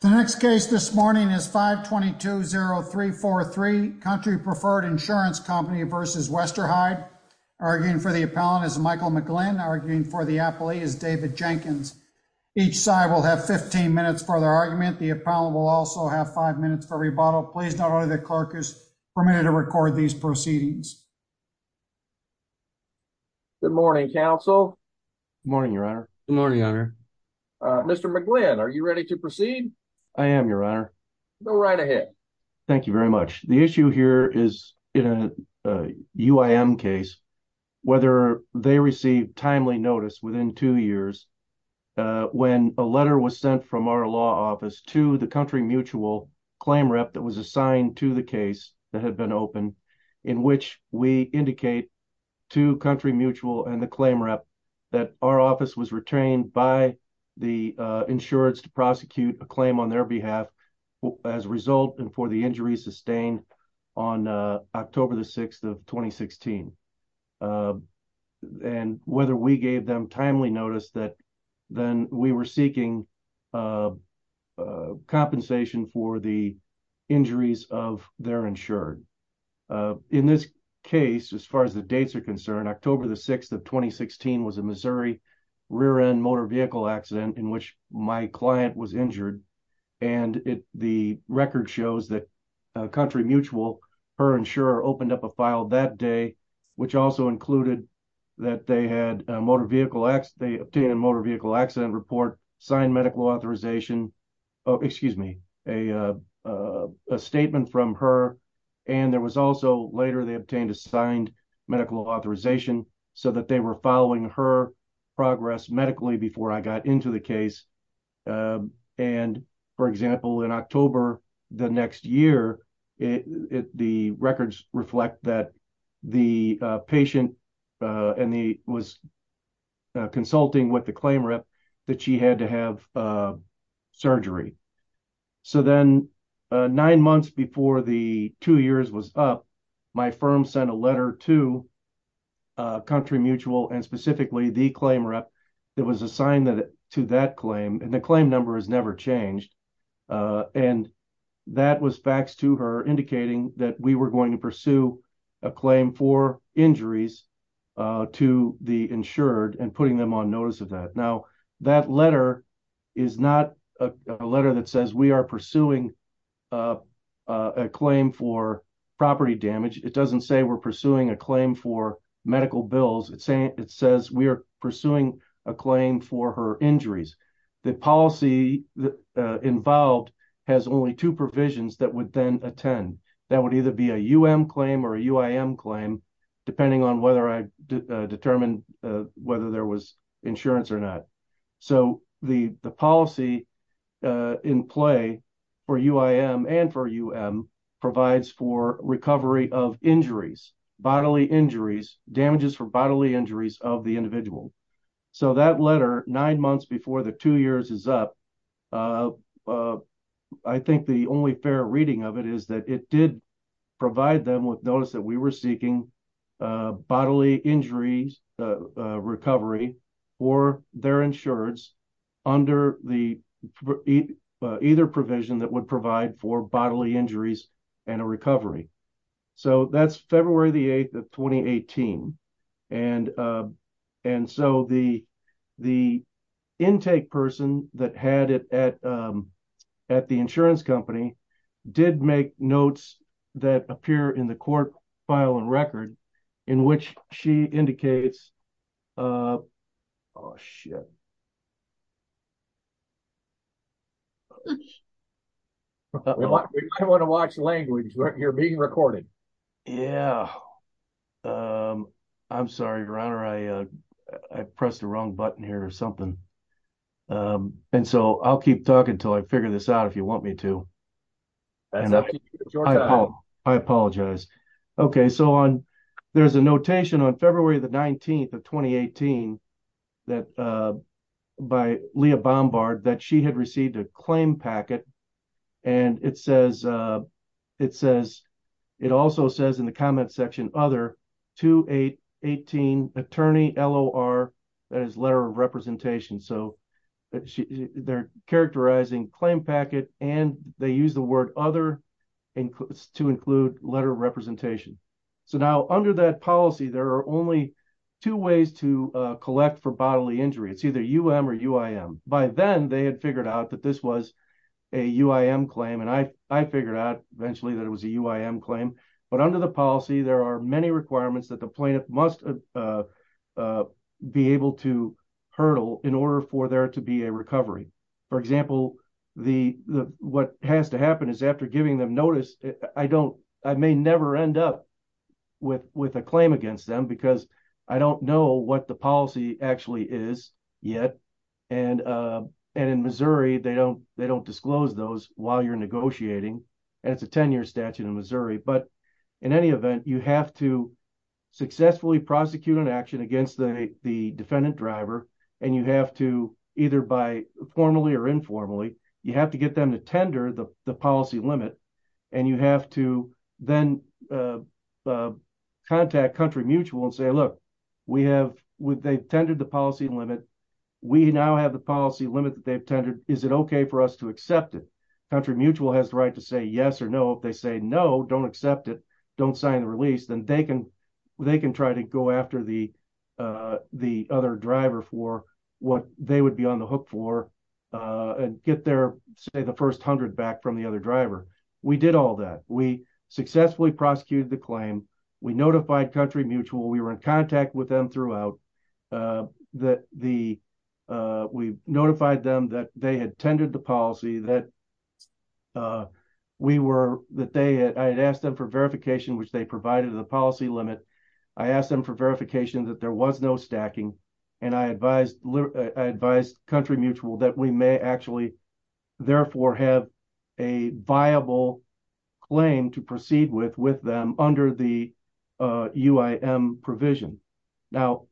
The next case this morning is 5220343, Country Preferred Insurance Company v. Westerheide. Arguing for the appellant is Michael McGlynn. Arguing for the appellee is David Jenkins. Each side will have 15 minutes for their argument. The appellant will also have five minutes for rebuttal. Please note only the clerk is permitted to record these proceedings. Good morning, counsel. Good morning, your honor. Good morning, your honor. Mr. McGlynn, are you ready to proceed? I am, your honor. Go right ahead. Thank you very much. The issue here is in a UIM case, whether they received timely notice within two years when a letter was sent from our law office to the country mutual claim rep that was assigned to the case that had been opened in which we indicate to country mutual and the claim rep that our office was retained by the insureds to prosecute a claim on their behalf as a result and for the injury sustained on October the 6th of 2016. And whether we gave them timely notice that then we were seeking a compensation for the injuries of their insured. In this case, as far as the dates are concerned, October the 6th of 2016 was a Missouri rear-end motor vehicle accident in which my client was injured. And the record shows that country mutual, her insurer opened up a file that day, which also included that they obtained a motor vehicle accident report, signed medical authorization, excuse me, a statement from her. And there was also later they obtained a signed medical authorization so that they were following her progress medically before I got into the case. And for example, in October the next year, the records reflect that the patient was consulting with the claim rep that she had to have surgery. So then nine months before the two years was up, my firm sent a letter to country mutual and specifically the claim rep that was assigned to that claim. And the claim number has never changed. And that was faxed to her indicating that we were going to pursue a claim for injuries to the insured and putting them on notice of that. Now, that letter is not a letter that says we are pursuing a claim for property damage. It doesn't say we're pursuing a claim for medical bills. It says we are pursuing a claim for her injuries. The policy involved has only two provisions that would then attend. That would either be a UM claim or a UIM claim, depending on whether I determined whether there was insurance or not. So the policy in play for UIM and for UM provides recovery of injuries, bodily injuries, damages for bodily injuries of the individual. So that letter nine months before the two years is up, I think the only fair reading of it is that it did provide them with notice that we were seeking bodily injuries recovery for their recovery. So that's February the 8th of 2018. And so the intake person that had it at the insurance company did make notes that appear in the court file and record in which she indicates, uh, oh, I want to watch language. You're being recorded. Yeah. Um, I'm sorry to run or I, uh, I pressed the wrong button here or something. Um, and so I'll keep talking until I figure this out if you want me to. I apologize. Okay. So on, there's a notation on February the 19th of 2018 that, uh, by Leah Bombard that she had received a claim packet. And it says, uh, it says, it also says in the comment section, other two, eight, 18 attorney LOR that is letter of representation. So that she they're characterizing claim packet and they use the word other includes to include letter of representation. So now under that policy, there are only two ways to, uh, collect for bodily injury. It's either UM or UIM. By then they had figured out that this was a UIM claim. And I, I figured out eventually that it was a UIM claim, but under the policy, there are many requirements that the plaintiff must, uh, uh, be able to in order for there to be a recovery. For example, the, the, what has to happen is after giving them notice, I don't, I may never end up with, with a claim against them because I don't know what the policy actually is yet. And, uh, and in Missouri, they don't, they don't disclose those while you're negotiating. And it's a 10 year statute in Missouri, but in any event, you have to either by formally or informally, you have to get them to tender the policy limit and you have to then, uh, uh, contact country mutual and say, look, we have, they've tendered the policy limit. We now have the policy limit that they've tendered. Is it okay for us to accept it? Country mutual has the right to say yes or no. If they say no, don't accept it. Don't sign the what they would be on the hook for, uh, get their say the first hundred back from the other driver. We did all that. We successfully prosecuted the claim. We notified country mutual. We were in contact with them throughout, uh, that the, uh, we notified them that they had tended the policy, that, uh, we were, that they had, I had asked them for verification, which they provided the limit. I asked them for verification that there was no stacking and I advised country mutual that we may actually therefore have a viable claim to proceed with, with them under the, uh, UIM provision. Now,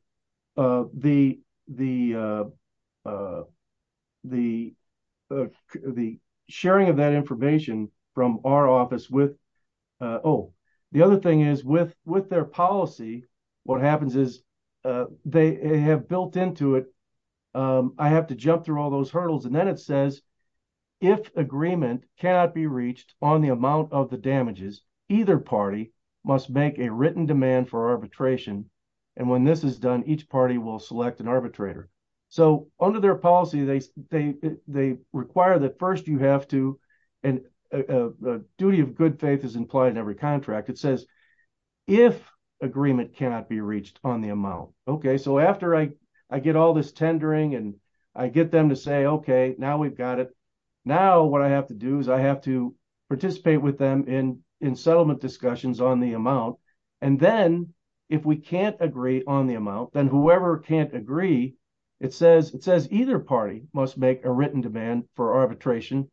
uh, the, the, uh, uh, the, uh, the sharing of that information from our office with, uh, oh, the other thing is with, with their policy, what happens is, uh, they have built into it. Um, I have to jump through all those hurdles and then it says, if agreement cannot be reached on the amount of the damages, either party must make a written demand for arbitration. And when this is done, each party will select an arbitrator. So under their policy, they, they, they require that first you have to, and, uh, uh, duty of good faith is implied in every contract. It says if agreement cannot be reached on the amount. Okay. So after I, I get all this tendering and I get them to say, okay, now we've got it. Now, what I have to do is I have to participate with them in, in settlement discussions on the amount. And then if we can't agree on the amount, then whoever can't agree, it says, it says either party must make a written demand for arbitration.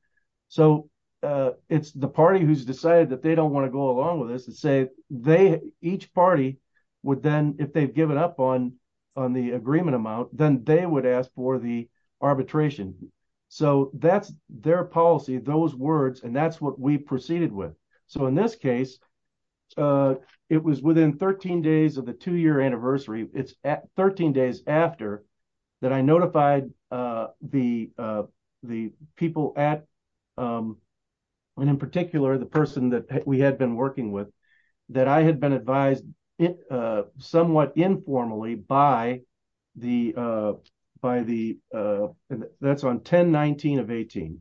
So, uh, it's the party who's decided that they don't want to go along with us and say, they, each party would then, if they've given up on, on the agreement amount, then they would ask for the arbitration. So that's their policy, those words, and that's what we proceeded with. So in this case, uh, it was within 13 days of the two year anniversary. It's at 13 days after that. I notified, uh, the, uh, the people at, um, and in particular, the person that we had been working with that I had been advised, uh, somewhat informally by the, uh, by the, uh, that's on 10, 19 of 18,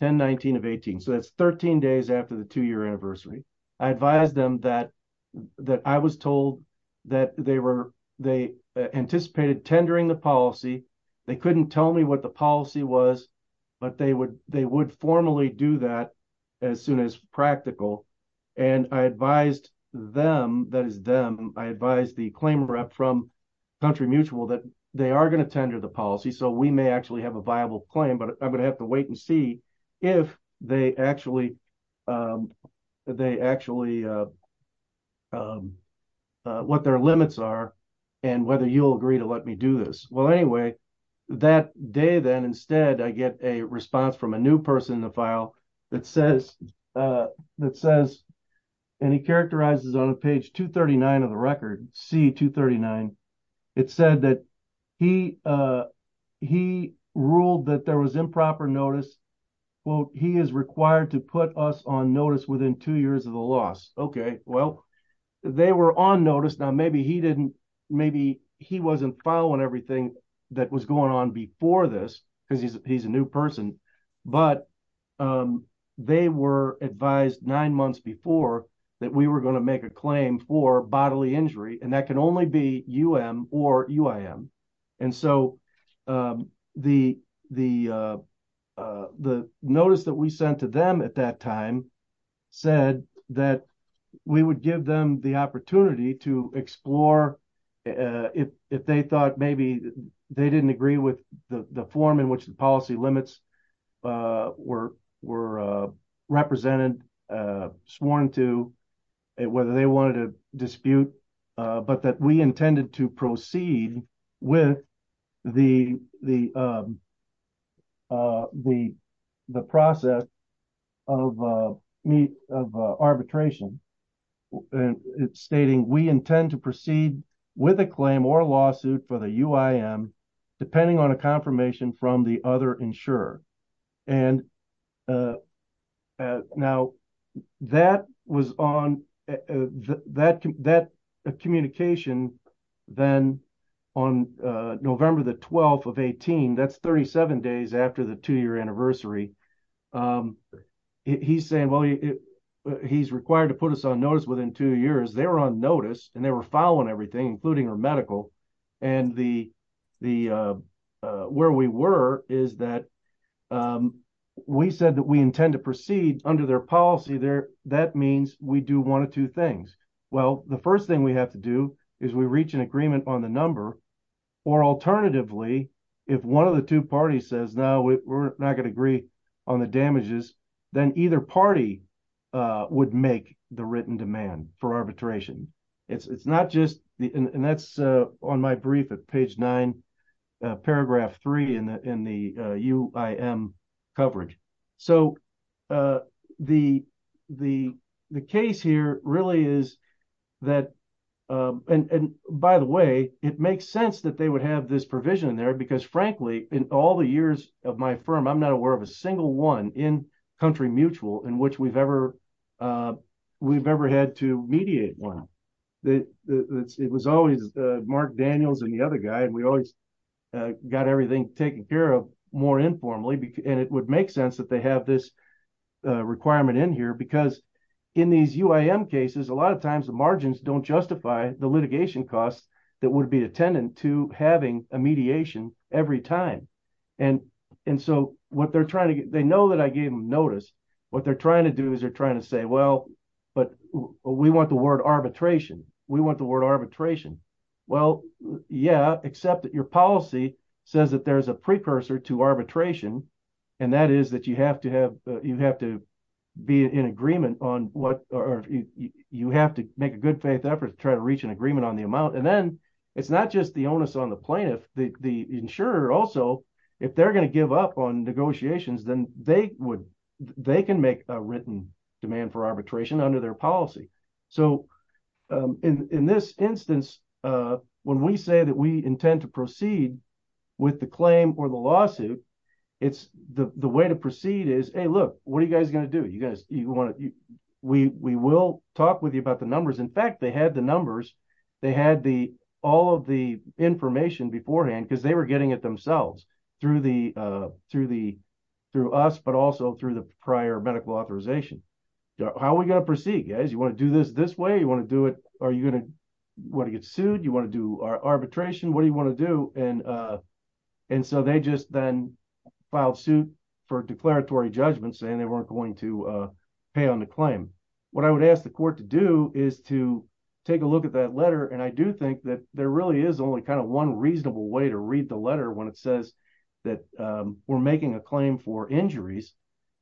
10, 19 of 18. So that's 13 days after the two year anniversary. I advised them that, that I was told that they were, they anticipated tendering the policy. They couldn't tell me what the policy was, but they would, they would formally do that as soon as practical. And I advised them that is them. I advised the claim rep from country mutual that they are going to tender the policy. So we may actually have a viable claim, but I'm going to have to wait and see if they actually, um, they actually, uh, um, uh, what their limits are and whether you'll agree to let me do this. Well, anyway, that day, then instead, I get a response from a new person in the file that says, uh, that says, and he characterizes on a page two 39 of the record C two 39. It said that he, uh, he ruled that there was improper notice. Well, he is required to put us on notice within two years of the loss. Okay. Well, they were on notice. Now maybe he didn't, maybe he wasn't following everything that was going on before this because he's, he's a new person, but, um, they were advised nine months before that we were going to make a claim for bodily injury, and that can only be U M or UIM. And so, um, the, the, uh, uh, the notice that we sent to them at that time said that we would give them the opportunity to explore, uh, if, if they thought maybe they didn't agree with the form which the policy limits, uh, were, were, uh, represented, uh, sworn to it, whether they wanted to dispute, uh, but that we intended to proceed with the, the, um, uh, the, the process of, uh, meet of, uh, arbitration. And it's stating, we intend to proceed with a claim or lawsuit for the UIM depending on a confirmation from the other insurer. And, uh, uh, now that was on that, that communication then on, uh, November the 12th of 18, that's 37 days after the two-year anniversary. Um, he's saying, well, he's required to put us on notice within two years. They were on notice and they were following everything, including her medical and the, the, uh, uh, where we were is that, um, we said that we intend to proceed under their policy there. That means we do one of two things. Well, the first thing we have to do is we reach an agreement on the number or alternatively, if one of the two parties says, no, we're not going to agree on the damages, then either party, uh, would make the written demand for arbitration. It's, it's not just the, and that's, uh, on my brief at page nine, uh, paragraph three in the, in the, uh, UIM coverage. So, uh, the, the, the case here really is that, um, and, and by the way, it makes sense that they would have this provision there because frankly, in all the years of my one in country mutual in which we've ever, uh, we've ever had to mediate one that it was always, uh, Mark Daniels and the other guy, and we always got everything taken care of more informally, and it would make sense that they have this requirement in here because in these UIM cases, a lot of times the margins don't justify the litigation costs that would be attendant to having a mediation every time. And, and so what they're trying to get, they know that I gave them notice. What they're trying to do is they're trying to say, well, but we want the word arbitration. We want the word arbitration. Well, yeah, except that your policy says that there's a precursor to arbitration. And that is that you have to have, you have to be in agreement on what, or you have to make a good faith effort to try to reach an agreement on the amount. And then it's not just the onus on the plaintiff, the insurer also, if they're going to give up on negotiations, then they would, they can make a written demand for arbitration under their policy. So, um, in, in this instance, uh, when we say that we intend to proceed with the claim or the lawsuit, it's the, the way to proceed is, Hey, look, what are you guys going to do? You guys, you want to, we, we will talk with you about the numbers. In fact, they had the numbers, they had the, all of the information beforehand because they were getting it themselves through the, uh, through the, through us, but also through the prior medical authorization. How are we going to proceed guys? You want to do this this way? You want to do it? Are you going to want to get sued? You want to do arbitration? What do you want to do? And, uh, and so they just then filed suit for declaratory judgment saying they weren't going to, uh, pay on the claim. What I would ask the court to do is to take a look at that letter. And I do think that there really is only kind of one reasonable way to read the letter when it says that, um, we're making a claim for injuries,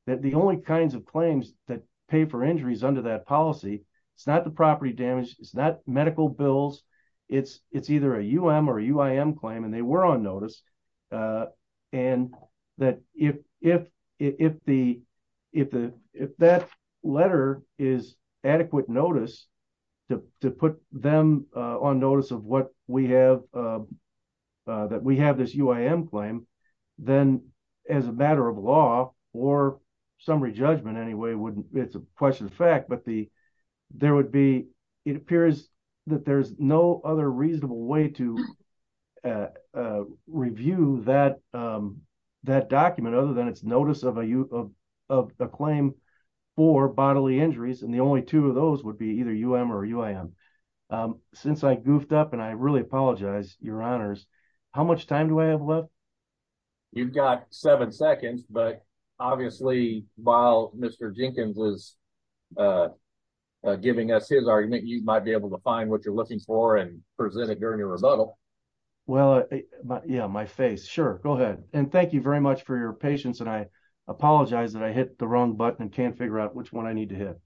that the only kinds of claims that pay for injuries under that policy, it's not the property damage, it's not medical bills. It's, it's either a UM or UIM claim, and they were on notice. Uh, and that if, if, if the, if the, if that letter is adequate notice to, to put them, uh, on notice of what we have, uh, uh, that we have this UIM claim, then as a matter of law or summary judgment anyway, wouldn't, it's a question of fact, but the, there would be, it appears that there's no other reasonable way to, uh, uh, review that, um, that document other than it's notice of a, of, of a claim for bodily injuries. And the only two of those would be either UM or UIM. Um, since I goofed up and I really apologize, your honors, how much time do I have left? You've got seven seconds, but obviously while Mr. Jenkins was, uh, giving us his argument, you might be able to find what you're looking for and present it during your rebuttal. Well, yeah, my face. Sure. Go ahead. And thank you very much for your patience. And I apologize that I hit the wrong button and can't figure out which one I need to hit.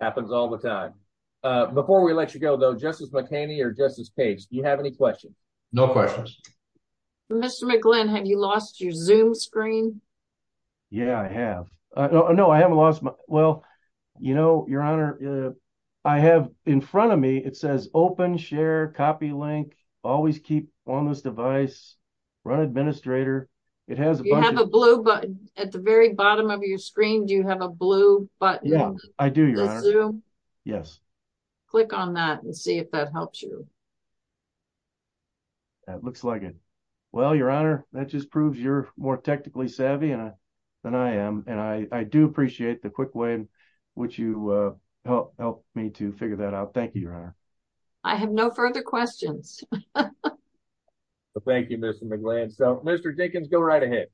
Happens all the time. Uh, before we let you go though, Justice McHaney or Justice Page, do you have any questions? No questions. Mr. McGlynn, have you lost your zoom screen? Yeah, I have. Uh, no, I haven't lost my, well, you know, your honor, uh, I have in front of me, it says open, share, copy link, always keep on this device, run administrator. It has a blue button at the very bottom of your screen. Do you have a blue button? I do. Yes. Click on that and see if that helps you. That looks like it. Well, your honor, that just proves you're more technically savvy than I am. And I do appreciate the quick way in which you, uh, helped me to figure that out. Thank you, your honor. I have no further questions. Thank you, Mr. McGlynn. So, Mr. Jenkins, go right ahead.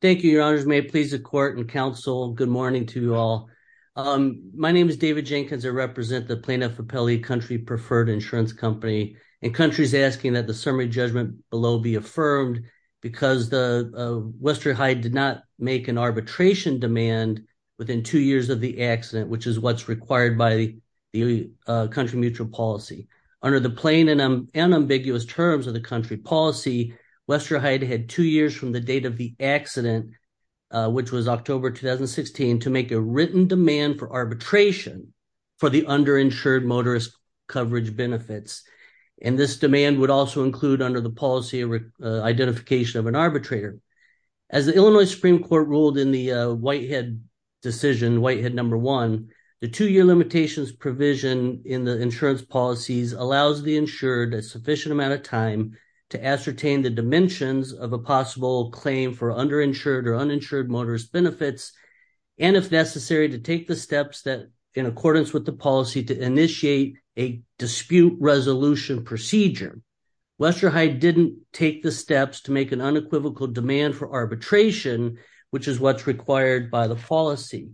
Thank you, your honors. May it please the court and counsel. Good morning to you all. Um, my name is David Jenkins. I represent the Plano-Frappelli country preferred insurance company and country's asking that the summary judgment below be affirmed because the, Westerheide did not make an arbitration demand within two years of the accident, which is what's required by the, uh, country mutual policy. Under the plain and unambiguous terms of the country policy, Westerheide had two years from the date of the accident, uh, which was October, 2016 to make a written demand for arbitration for the underinsured motorist coverage benefits. And this as the Illinois Supreme court ruled in the, uh, Whitehead decision, Whitehead number one, the two year limitations provision in the insurance policies allows the insured a sufficient amount of time to ascertain the dimensions of a possible claim for underinsured or uninsured motorist benefits. And if necessary to take the steps that in accordance with the policy to initiate a dispute resolution procedure, Westerheide didn't take the steps to make an equivocal demand for arbitration, which is what's required by the policy.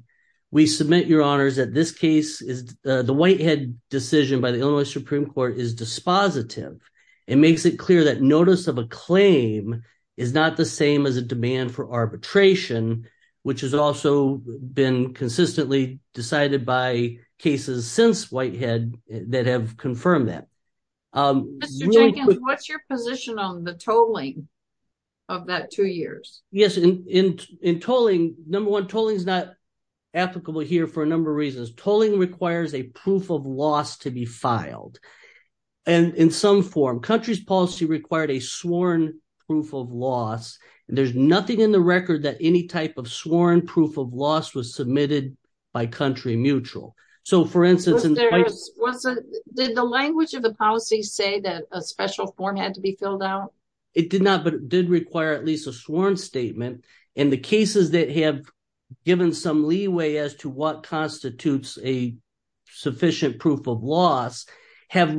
We submit your honors that this case is, uh, the Whitehead decision by the Illinois Supreme court is dispositive. It makes it clear that notice of a claim is not the same as a demand for arbitration, which has also been consistently decided by cases since Whitehead that have confirmed that. Mr. Jenkins, what's your position on the tolling of that two years? Yes. In, in, in tolling number one, tolling is not applicable here for a number of reasons. Tolling requires a proof of loss to be filed. And in some form country's policy required a sworn proof of loss, and there's nothing in the record that any type of sworn proof of loss was submitted by country mutual. So for instance, did the language of the policy say that a special form had to be filled out? It did not, but it did require at least a sworn statement and the cases that have given some leeway as to what constitutes a sufficient proof of loss have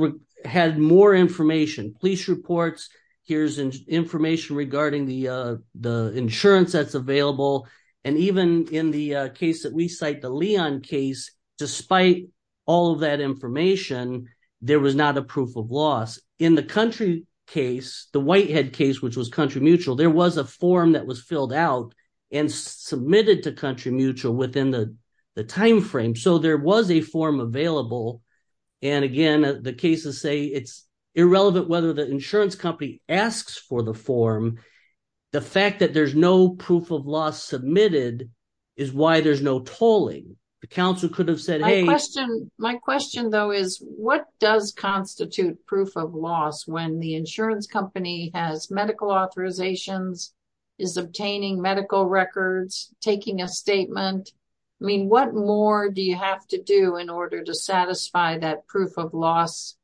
had more information, police reports, here's information regarding the, uh, the insurance that's available. And even in the case that we cite the Leon case, despite all of that information, there was not a proof of loss in the country case, the Whitehead case, which was country mutual. There was a form that was filled out and submitted to country mutual within the timeframe. So there was a form available. And again, the cases say it's irrelevant, whether the insurance company asks for the form, the fact that there's no proof of loss submitted is why there's no tolling. The council could have said, hey, my question though is what does constitute proof of loss when the insurance company has medical authorizations, is obtaining medical records, taking a statement? I mean, what more do you have to do in order to satisfy that proof of loss,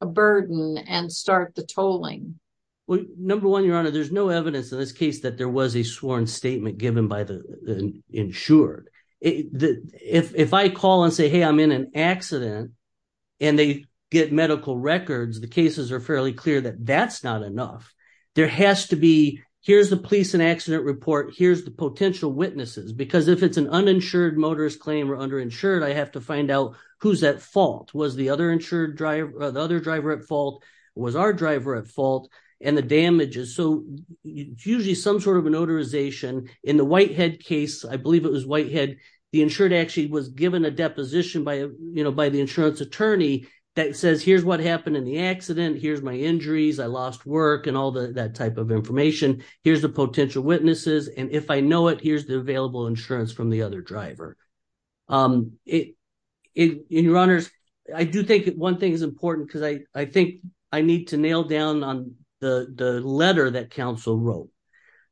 a burden and start the tolling? Well, number one, your honor, there's no evidence in this case that there was a sworn statement given by the insured. If I call and say, hey, I'm in an accident and they get medical records, the cases are fairly clear that that's not enough. There has to be, here's the police and accident report. Here's the potential witnesses, because if it's an uninsured motorist claim or under insured, I have to find out who's at fault. Was the other insured driver, the other driver at fault, was our driver at fault and the damages. So it's usually some sort of an authorization in the Whitehead case. I believe it was Whitehead. The insured actually was given a deposition by the insurance attorney that says, here's what happened in the accident. Here's my injuries. I lost work and all that type of information. Here's the potential witnesses. And if I know it, here's the available insurance from the other driver. In your honors, I do think one thing is important because I think I need to nail down on the letter that counsel wrote.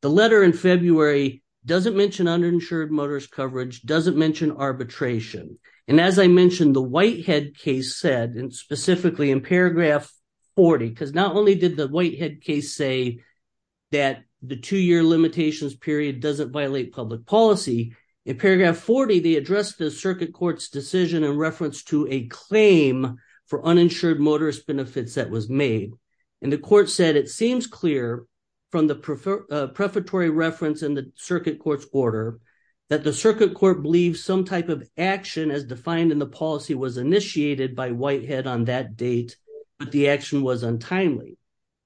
The letter in February doesn't mention uninsured motorist coverage, doesn't mention arbitration. And as I mentioned, the Whitehead case said, and specifically in paragraph 40, because not only did the Whitehead case say that the two-year limitations period doesn't violate public policy, in paragraph 40, they addressed the circuit court's decision in reference to a claim for uninsured motorist benefits that was made. And the court said it seems clear from the prefatory reference in the circuit court's order that the circuit court believes some type of action as defined in the policy was initiated by Whitehead on that date, but the action was untimely.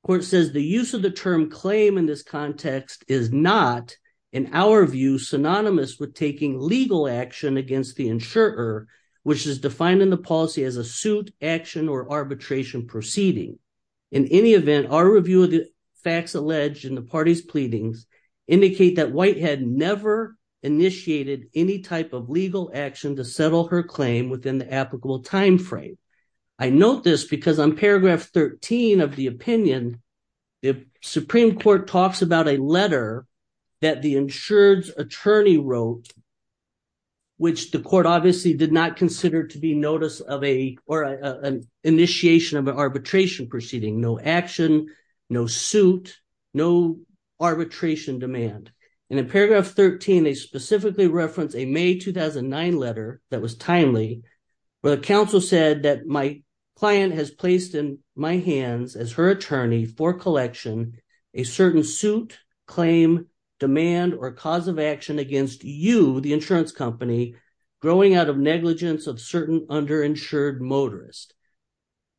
The court says the use of the term claim in this context is not, in our view, synonymous with taking legal action against the insurer, which is defined in the policy as a suit, action, or arbitration proceeding. In any event, our review of the facts alleged in the party's pleadings indicate that Whitehead never initiated any type of legal action to settle her claim within the applicable time frame. I note this because on paragraph 13 of the opinion, the Supreme Court talks about a letter that the insured's attorney wrote, which the court obviously did not consider to be notice of an initiation of an arbitration proceeding. No action, no suit, no arbitration demand. And in paragraph 13, they specifically reference a May 2009 letter that was timely, where the counsel said that my client has placed in my hands as her attorney for collection a certain suit, claim, demand, or cause of action against you, the insurance company, growing out of negligence of certain underinsured motorists.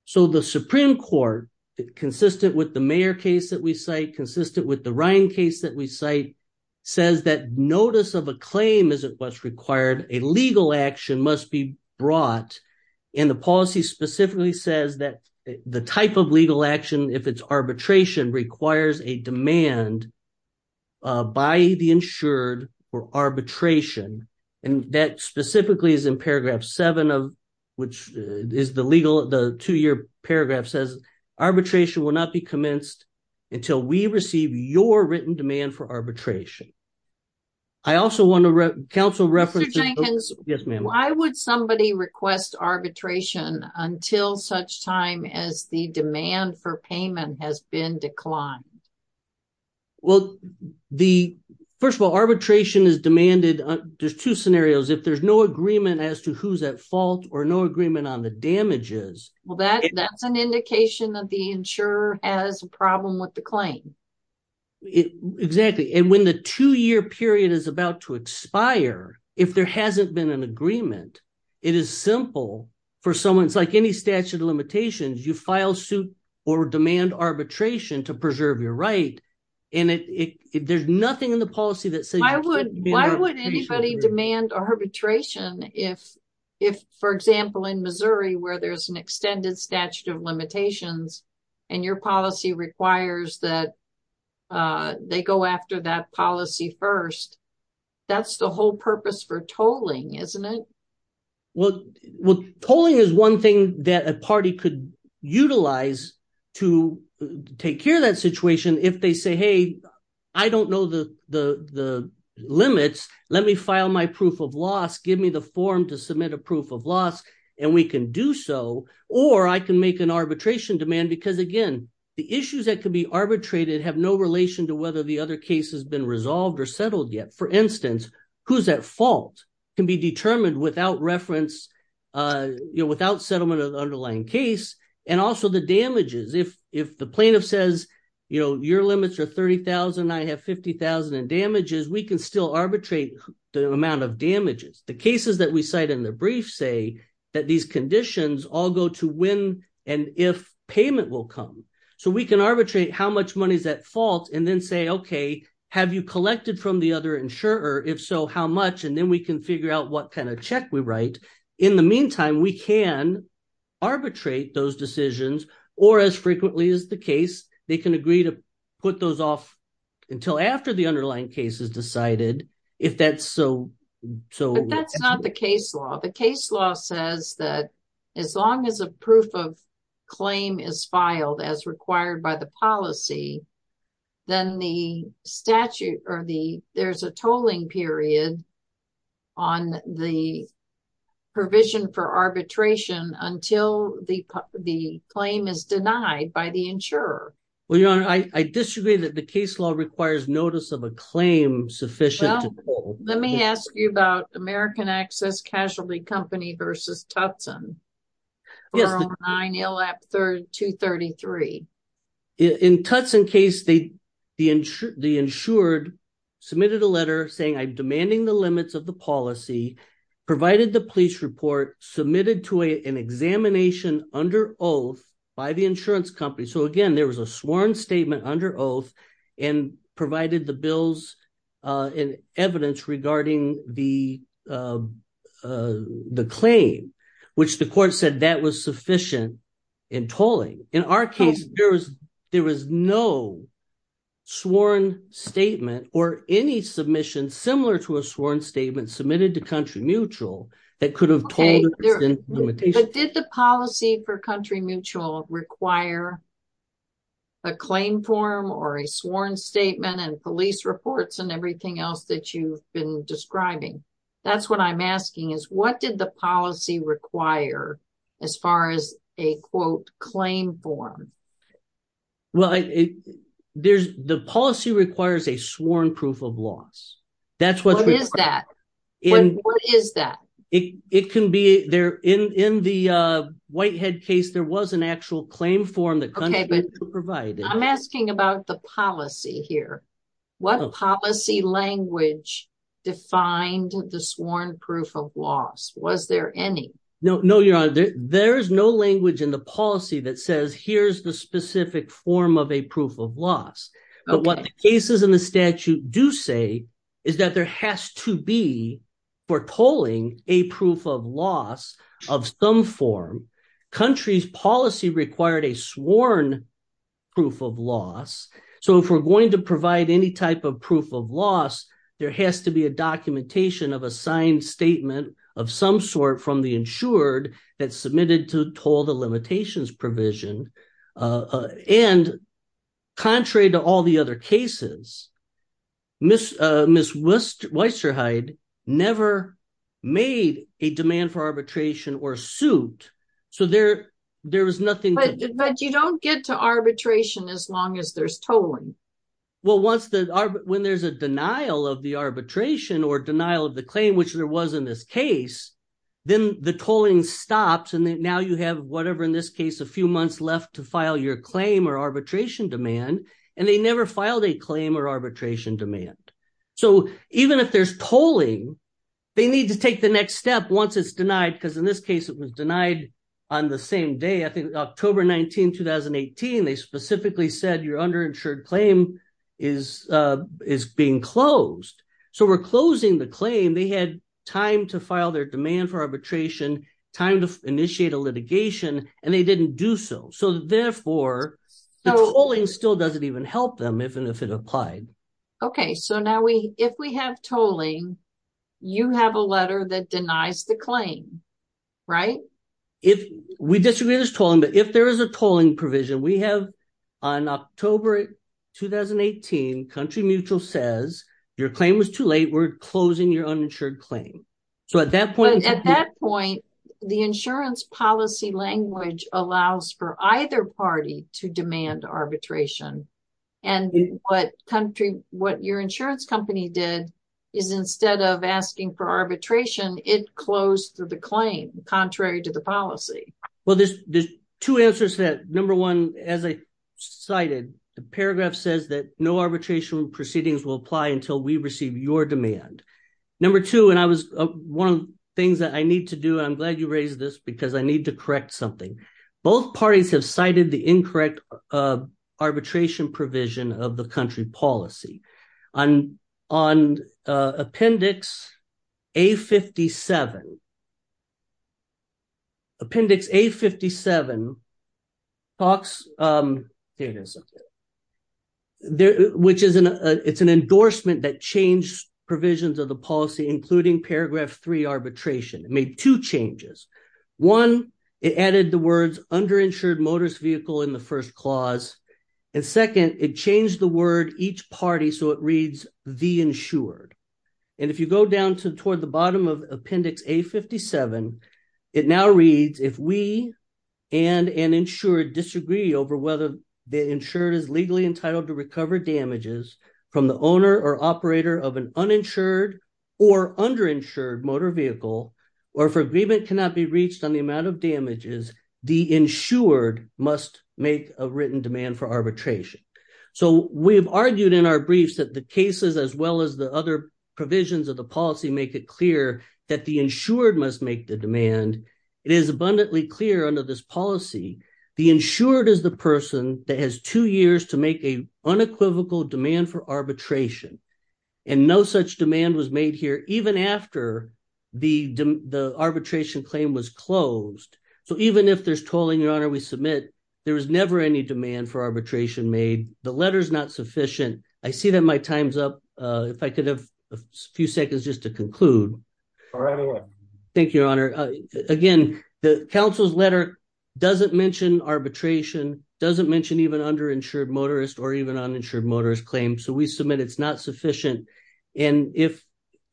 So the Supreme Court, consistent with the Mayer case that we cite, consistent with the Ryan case that we cite, says that notice of a claim isn't what's required. A legal action must be brought, and the policy specifically says that the type of legal action, if it's arbitration, requires a demand by the insured for arbitration. And that specifically is in paragraph seven of, which is the legal, the two-year paragraph says, arbitration will not be commenced until we receive your written demand for arbitration. I also want to, counsel referenced... Mr. Jenkins. Yes, ma'am. Why would somebody request arbitration until such time as the demand for payment has been declined? Well, first of all, arbitration is demanded, there's two scenarios. If there's no agreement as to who's at fault or no agreement on the damages. Well, that's an indication that the insurer has a problem with the claim. Exactly. And when the two-year period is about to expire, if there hasn't been an agreement, it is simple for someone, it's like any statute of limitations, you file suit or demand arbitration to preserve your right. And there's nothing in the policy that says... Why would anybody demand arbitration if, for example, in Missouri, where there's an extended statute of limitations, and your policy requires that they go after that policy first, that's the whole purpose for tolling, isn't it? Well, tolling is one thing that a party could utilize to take care of that situation. If they say, hey, I don't know the limits, let me file my proof of loss, give me the form to submit a proof of loss, and we can do so, or I can make an arbitration demand. Because again, the issues that could be arbitrated have no relation to the other case has been resolved or settled yet. For instance, who's at fault can be determined without settlement of the underlying case, and also the damages. If the plaintiff says, your limits are 30,000, I have 50,000 in damages, we can still arbitrate the amount of damages. The cases that we cite in the brief say that these conditions all go to when and if payment will come. So we can arbitrate how much money is at fault, and then say, okay, have you collected from the other insurer? If so, how much? And then we can figure out what kind of check we write. In the meantime, we can arbitrate those decisions, or as frequently as the case, they can agree to put those off until after the underlying case is decided, if that's so. But that's not the case law. The case law says that as long as a proof of claim is filed as required by the policy, then there's a tolling period on the provision for arbitration until the claim is denied by the insurer. Well, your honor, I disagree that the case law requires notice of a claim sufficient. Let me ask you about American Access Casualty Company versus Tutson. In the Tutson case, the insured submitted a letter saying, I'm demanding the limits of the policy, provided the police report, submitted to an examination under oath by the insurance company. Again, there was a sworn statement under oath and provided the bills and evidence regarding the claim, which the court said that was sufficient in tolling. In our case, there was no sworn statement or any submission similar to a sworn statement submitted to Country Mutual that could have tolled. Did the policy for Country Mutual require a claim form or a sworn statement and police reports and everything else that you've been describing? That's what I'm asking, is what did the policy require as far as a quote claim form? Well, the policy requires a sworn proof of loss. What is that? In the Whitehead case, there was an actual claim form that Country Mutual provided. I'm asking about the policy here. What policy language defined the sworn proof of loss? Was there any? No, your honor, there's no language in the policy that says, here's the specific form of a proof of loss. But what the cases in the statute do say is that there has to be, for tolling, a proof of loss of some form. Country's policy required a sworn proof of loss. So if we're going to provide any type of proof of loss, there has to be a documentation of a signed statement of some sort from the insured that submitted to toll the provision. And contrary to all the other cases, Ms. Weisterheide never made a demand for arbitration or suit. So there was nothing. But you don't get to arbitration as long as there's tolling. Well, when there's a denial of the arbitration or denial of the claim, which there was in this case, then the tolling stops. And now you have whatever, in this case, a few months left to file your claim or arbitration demand. And they never filed a claim or arbitration demand. So even if there's tolling, they need to take the next step once it's denied. Because in this case, it was denied on the same day. I think October 19, 2018, they specifically said your underinsured claim is being closed. So we're closing the claim. They had time to file their demand for arbitration, time to initiate a litigation, and they didn't do so. So therefore, the tolling still doesn't even help them if it applied. Okay. So now if we have tolling, you have a letter that denies the claim, right? If we disagree with this tolling, but if there is a tolling provision, we have on October 2018, Country Mutual says, your claim was too late, we're closing your uninsured claim. So at that point, the insurance policy language allows for either party to demand arbitration. And what your insurance company did is instead of asking for arbitration, it closed the claim, contrary to the policy. Well, there's two answers to that. Number one, as I cited, the paragraph says that no arbitration proceedings will apply until we receive your demand. Number two, and I was one of the things that I need to do, and I'm glad you raised this because I need to correct something. Both parties have cited the incorrect arbitration provision of the A57. Appendix A57 talks... There it is. It's an endorsement that changed provisions of the policy, including paragraph three arbitration. It made two changes. One, it added the words underinsured motorist vehicle in the first clause. And second, it changed the word each party. So it reads the insured. And if you go down to toward the bottom of appendix A57, it now reads, if we and an insured disagree over whether the insured is legally entitled to recover damages from the owner or operator of an uninsured or underinsured motor vehicle, or if agreement cannot be reached on the amount of damages, the insured must make a written demand for arbitration. So we've argued in our briefs that the cases as well as the other provisions of the policy make it clear that the insured must make the demand. It is abundantly clear under this policy, the insured is the person that has two years to make a unequivocal demand for arbitration. And no such demand was made here even after the arbitration claim was closed. So even if there's tolling, your honor, we submit, there was never any demand for arbitration made. The letter's not sufficient. I see that my time's up. If I could have a few seconds just to conclude. Thank you, your honor. Again, the council's letter doesn't mention arbitration, doesn't mention even underinsured motorist or even uninsured motorist claims. So we submit it's not sufficient. And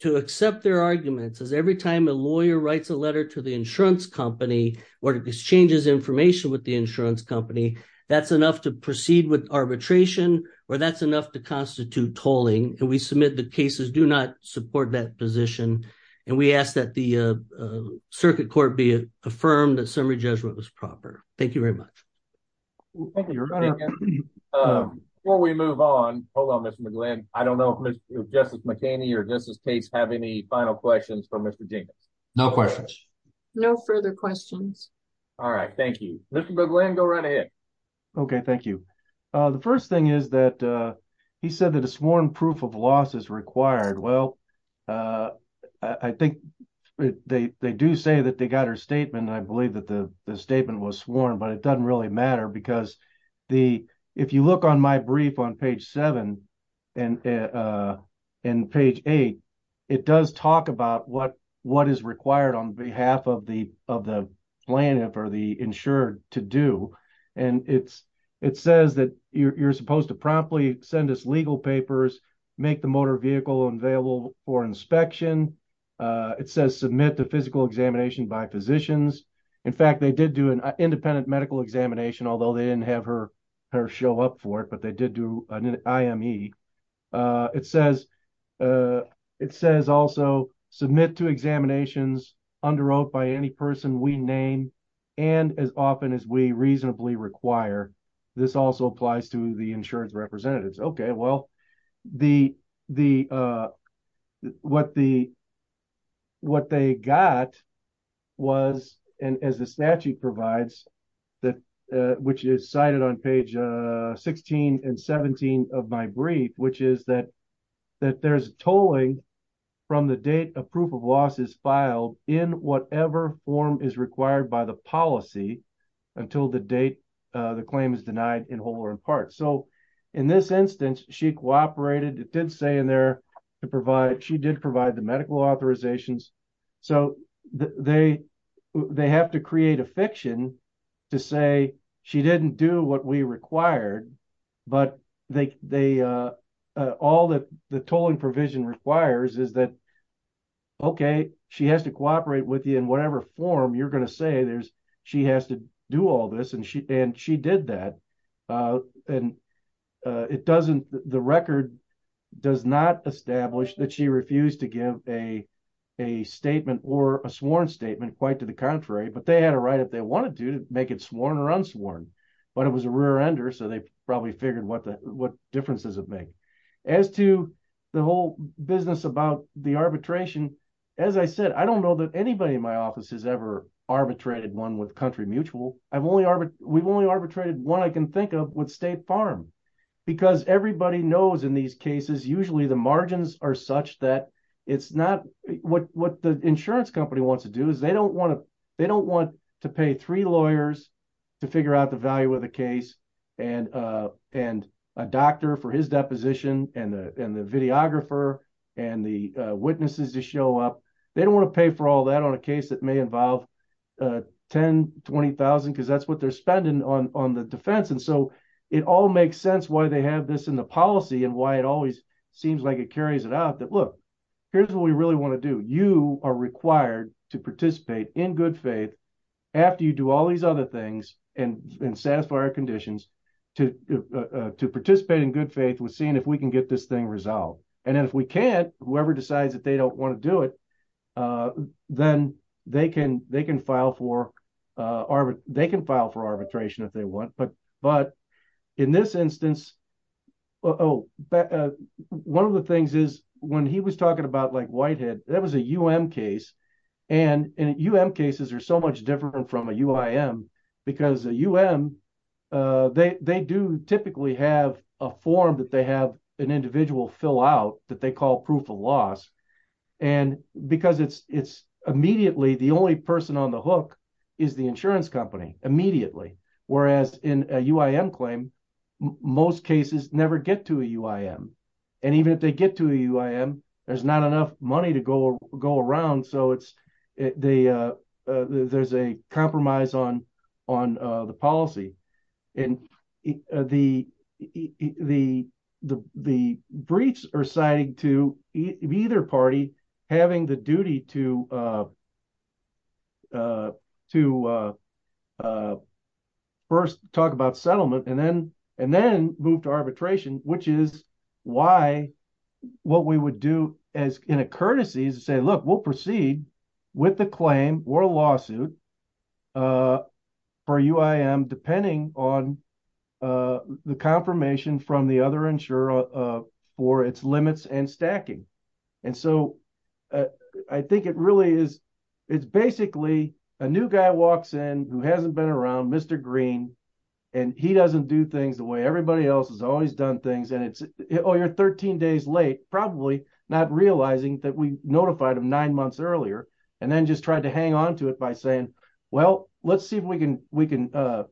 to accept their arguments is every time a lawyer writes a letter to the insurance company or exchanges information with the insurance company, that's enough to proceed with arbitration or that's enough to constitute tolling. And we submit the cases do not support that position. And we ask that the circuit court be affirmed that summary judgment was proper. Thank you very much. Thank you, your honor. Before we move on, hold on, Mr. McGlynn. I don't know if Justice McCaney or Justice Case have any final questions for Mr. Dinkins. No questions. No further questions. All right, thank you. Mr. McGlynn, go right ahead. Okay, thank you. The first thing is that he said that a sworn proof of loss is required. Well, I think they do say that they got her because if you look on my brief on page seven and page eight, it does talk about what is required on behalf of the plaintiff or the insured to do. And it says that you're supposed to promptly send us legal papers, make the motor vehicle available for inspection. It says submit to medical examination, although they didn't have her show up for it, but they did do an IME. It says also submit to examinations under oath by any person we name and as often as we reasonably require. This also applies to the insured representatives. Okay, well, what they got was, and as the statute provides, which is cited on page 16 and 17 of my brief, which is that there's tolling from the date a proof of loss is filed in whatever form is required by the policy until the date the claim is denied in whole or in part. So in this instance, she cooperated, it did say in there to provide, she did provide the medical authorizations. So they have to create a fiction to say she didn't do what we required, but all that the tolling provision requires is that, okay, she has to cooperate with you in whatever form you're going to say she has to all this. And she did that. And it doesn't, the record does not establish that she refused to give a statement or a sworn statement quite to the contrary, but they had a right if they wanted to make it sworn or unsworn, but it was a rear ender. So they probably figured what the, what differences it make. As to the whole business about the arbitration, as I said, I don't know that anybody in my office has ever arbitrated one with Country Mutual. We've only arbitrated one I can think of with State Farm because everybody knows in these cases, usually the margins are such that it's not, what the insurance company wants to do is they don't want to pay three lawyers to figure out the value of the case and a doctor for his deposition and the videographer and the witnesses to show up. They don't want to pay for all that on a case that may involve 10, 20,000, because that's what they're spending on the defense. And so it all makes sense why they have this in the policy and why it always seems like it carries it out that, look, here's what we really want to do. You are required to participate in good faith after you do all these other things and satisfy our conditions to participate in good faith with seeing if we can get this thing resolved. And if we can't, whoever decides that they don't want to do it, then they can file for arbitration if they want. But in this instance, one of the things is when he was talking about Whitehead, that was a U.M. case, and U.M. cases are so much different from a U.I.M. because a U.M., they do typically have a form that they have an individual fill out that they call proof of loss, and because it's immediately, the only person on the hook is the insurance company immediately, whereas in a U.I.M. claim, most cases never get to a U.I.M. And even if they get to a U.I.M., there's not enough money to go around, so there's a compromise on the policy. And the briefs are citing to either party having the duty to first talk about settlement and then move to arbitration, which is why what we would do in a courtesy is to say, look, we'll proceed with the claim or a lawsuit for a U.I.M. depending on the confirmation from the other insurer for its limits and stacking. And so I think it really is, it's basically a new guy walks in who hasn't been around, Mr. Green, and he doesn't do things the way everybody else has always done things, and it's, oh, you're 13 days late, probably not realizing that we notified him nine months earlier, and then just tried to hang on to it by saying, well, let's see if we can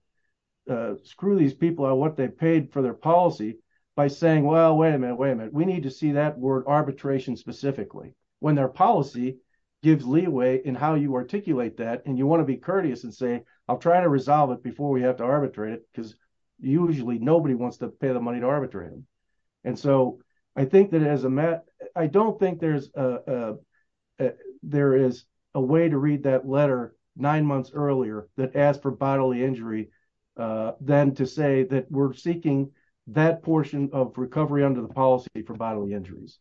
screw these people on what they paid for their policy by saying, well, wait a minute, wait a minute, we need to see that word arbitration specifically, when their policy gives leeway in how you articulate that, and you want to be courteous and say, I'll try to resolve it before we have to arbitrate it, because usually nobody wants to pay the money to arbitrate them. And so I think that as a matter, I don't think there is a way to read that letter nine months earlier that asked for bodily injury, then to say that we're seeking that portion of recovery under the policy for bodily injuries.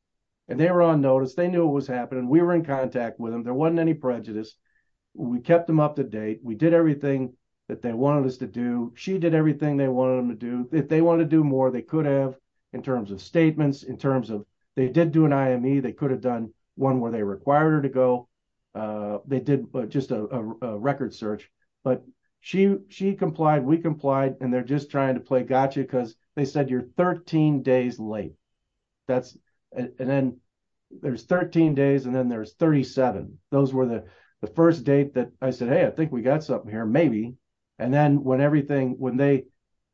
And they were on notice, they knew what was happening, we were in contact with them, there wasn't any prejudice, we kept them up to date, we did everything that they wanted us to do, she did everything they wanted them to do, if they wanted to do more, they could have in terms of statements, in terms of, they did do an IME, they could have done one where they required her to go, they did just a record search, but she complied, we complied, and they're just trying to play gotcha, because they said you're 13 days late, that's, and then there's 13 days, and then there's 37, those were the first date that I said, hey, I think we got something here, maybe, and then when everything, when they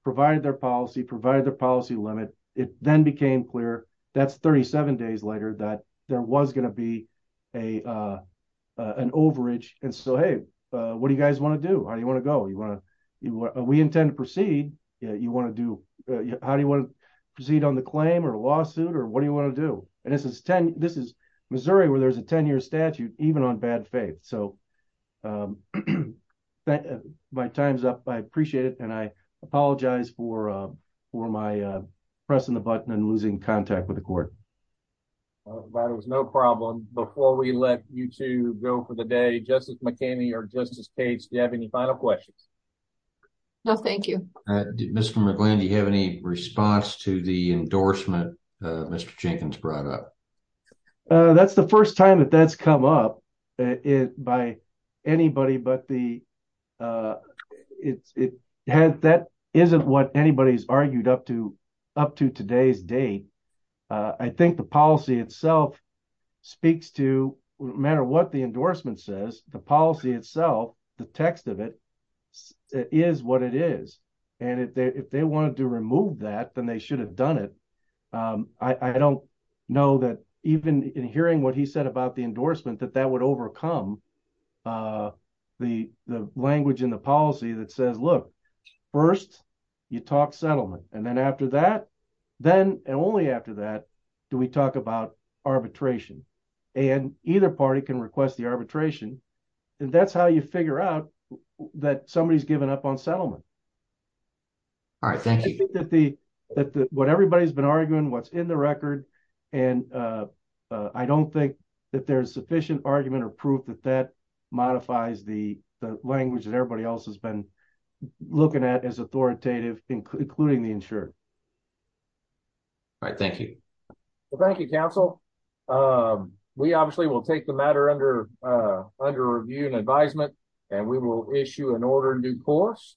provided their policy, provided the policy limit, it then became clear, that's 37 days later, that there was going to be an overage, and so hey, what do you guys want to do, how do you want to go, you want to, we intend to proceed, yeah, you want to do, how do you want to proceed on the claim, or a lawsuit, or what do you want to do, and this is Missouri, where there's a 10-year statute, even on bad faith, so my time's up, I appreciate it, and I apologize for my pressing the button, and losing contact with the court. Well, there was no problem, before we let you two go for the day, Justice McKinney or Justice Cates, do you have any final questions? No, thank you. Mr. McGlynn, do you have any response to the endorsement Mr. Jenkins brought up? That's the first time that that's come up, by anybody, but that isn't what anybody's argued up to today's date, I think the policy itself speaks to, no matter what the endorsement says, the policy itself, the text of it, is what it is, and if they wanted to remove that, then they should have done it, I don't know that even in hearing what he said about the endorsement, that that would overcome the language in the policy that says, look, first you talk settlement, and then after that, then, and only after that, do we talk about arbitration, and either party can request the arbitration, and that's how you figure out that somebody's given up on settlement. All right, thank you. I think that what everybody's been arguing, what's in the record, and I don't think that there's sufficient argument or proof that that modifies the language that everybody else has been looking at as authoritative, including the insured. All right, thank you. Well, thank you, counsel. We obviously will take the matter under review and advisement, and we will issue an order in due course.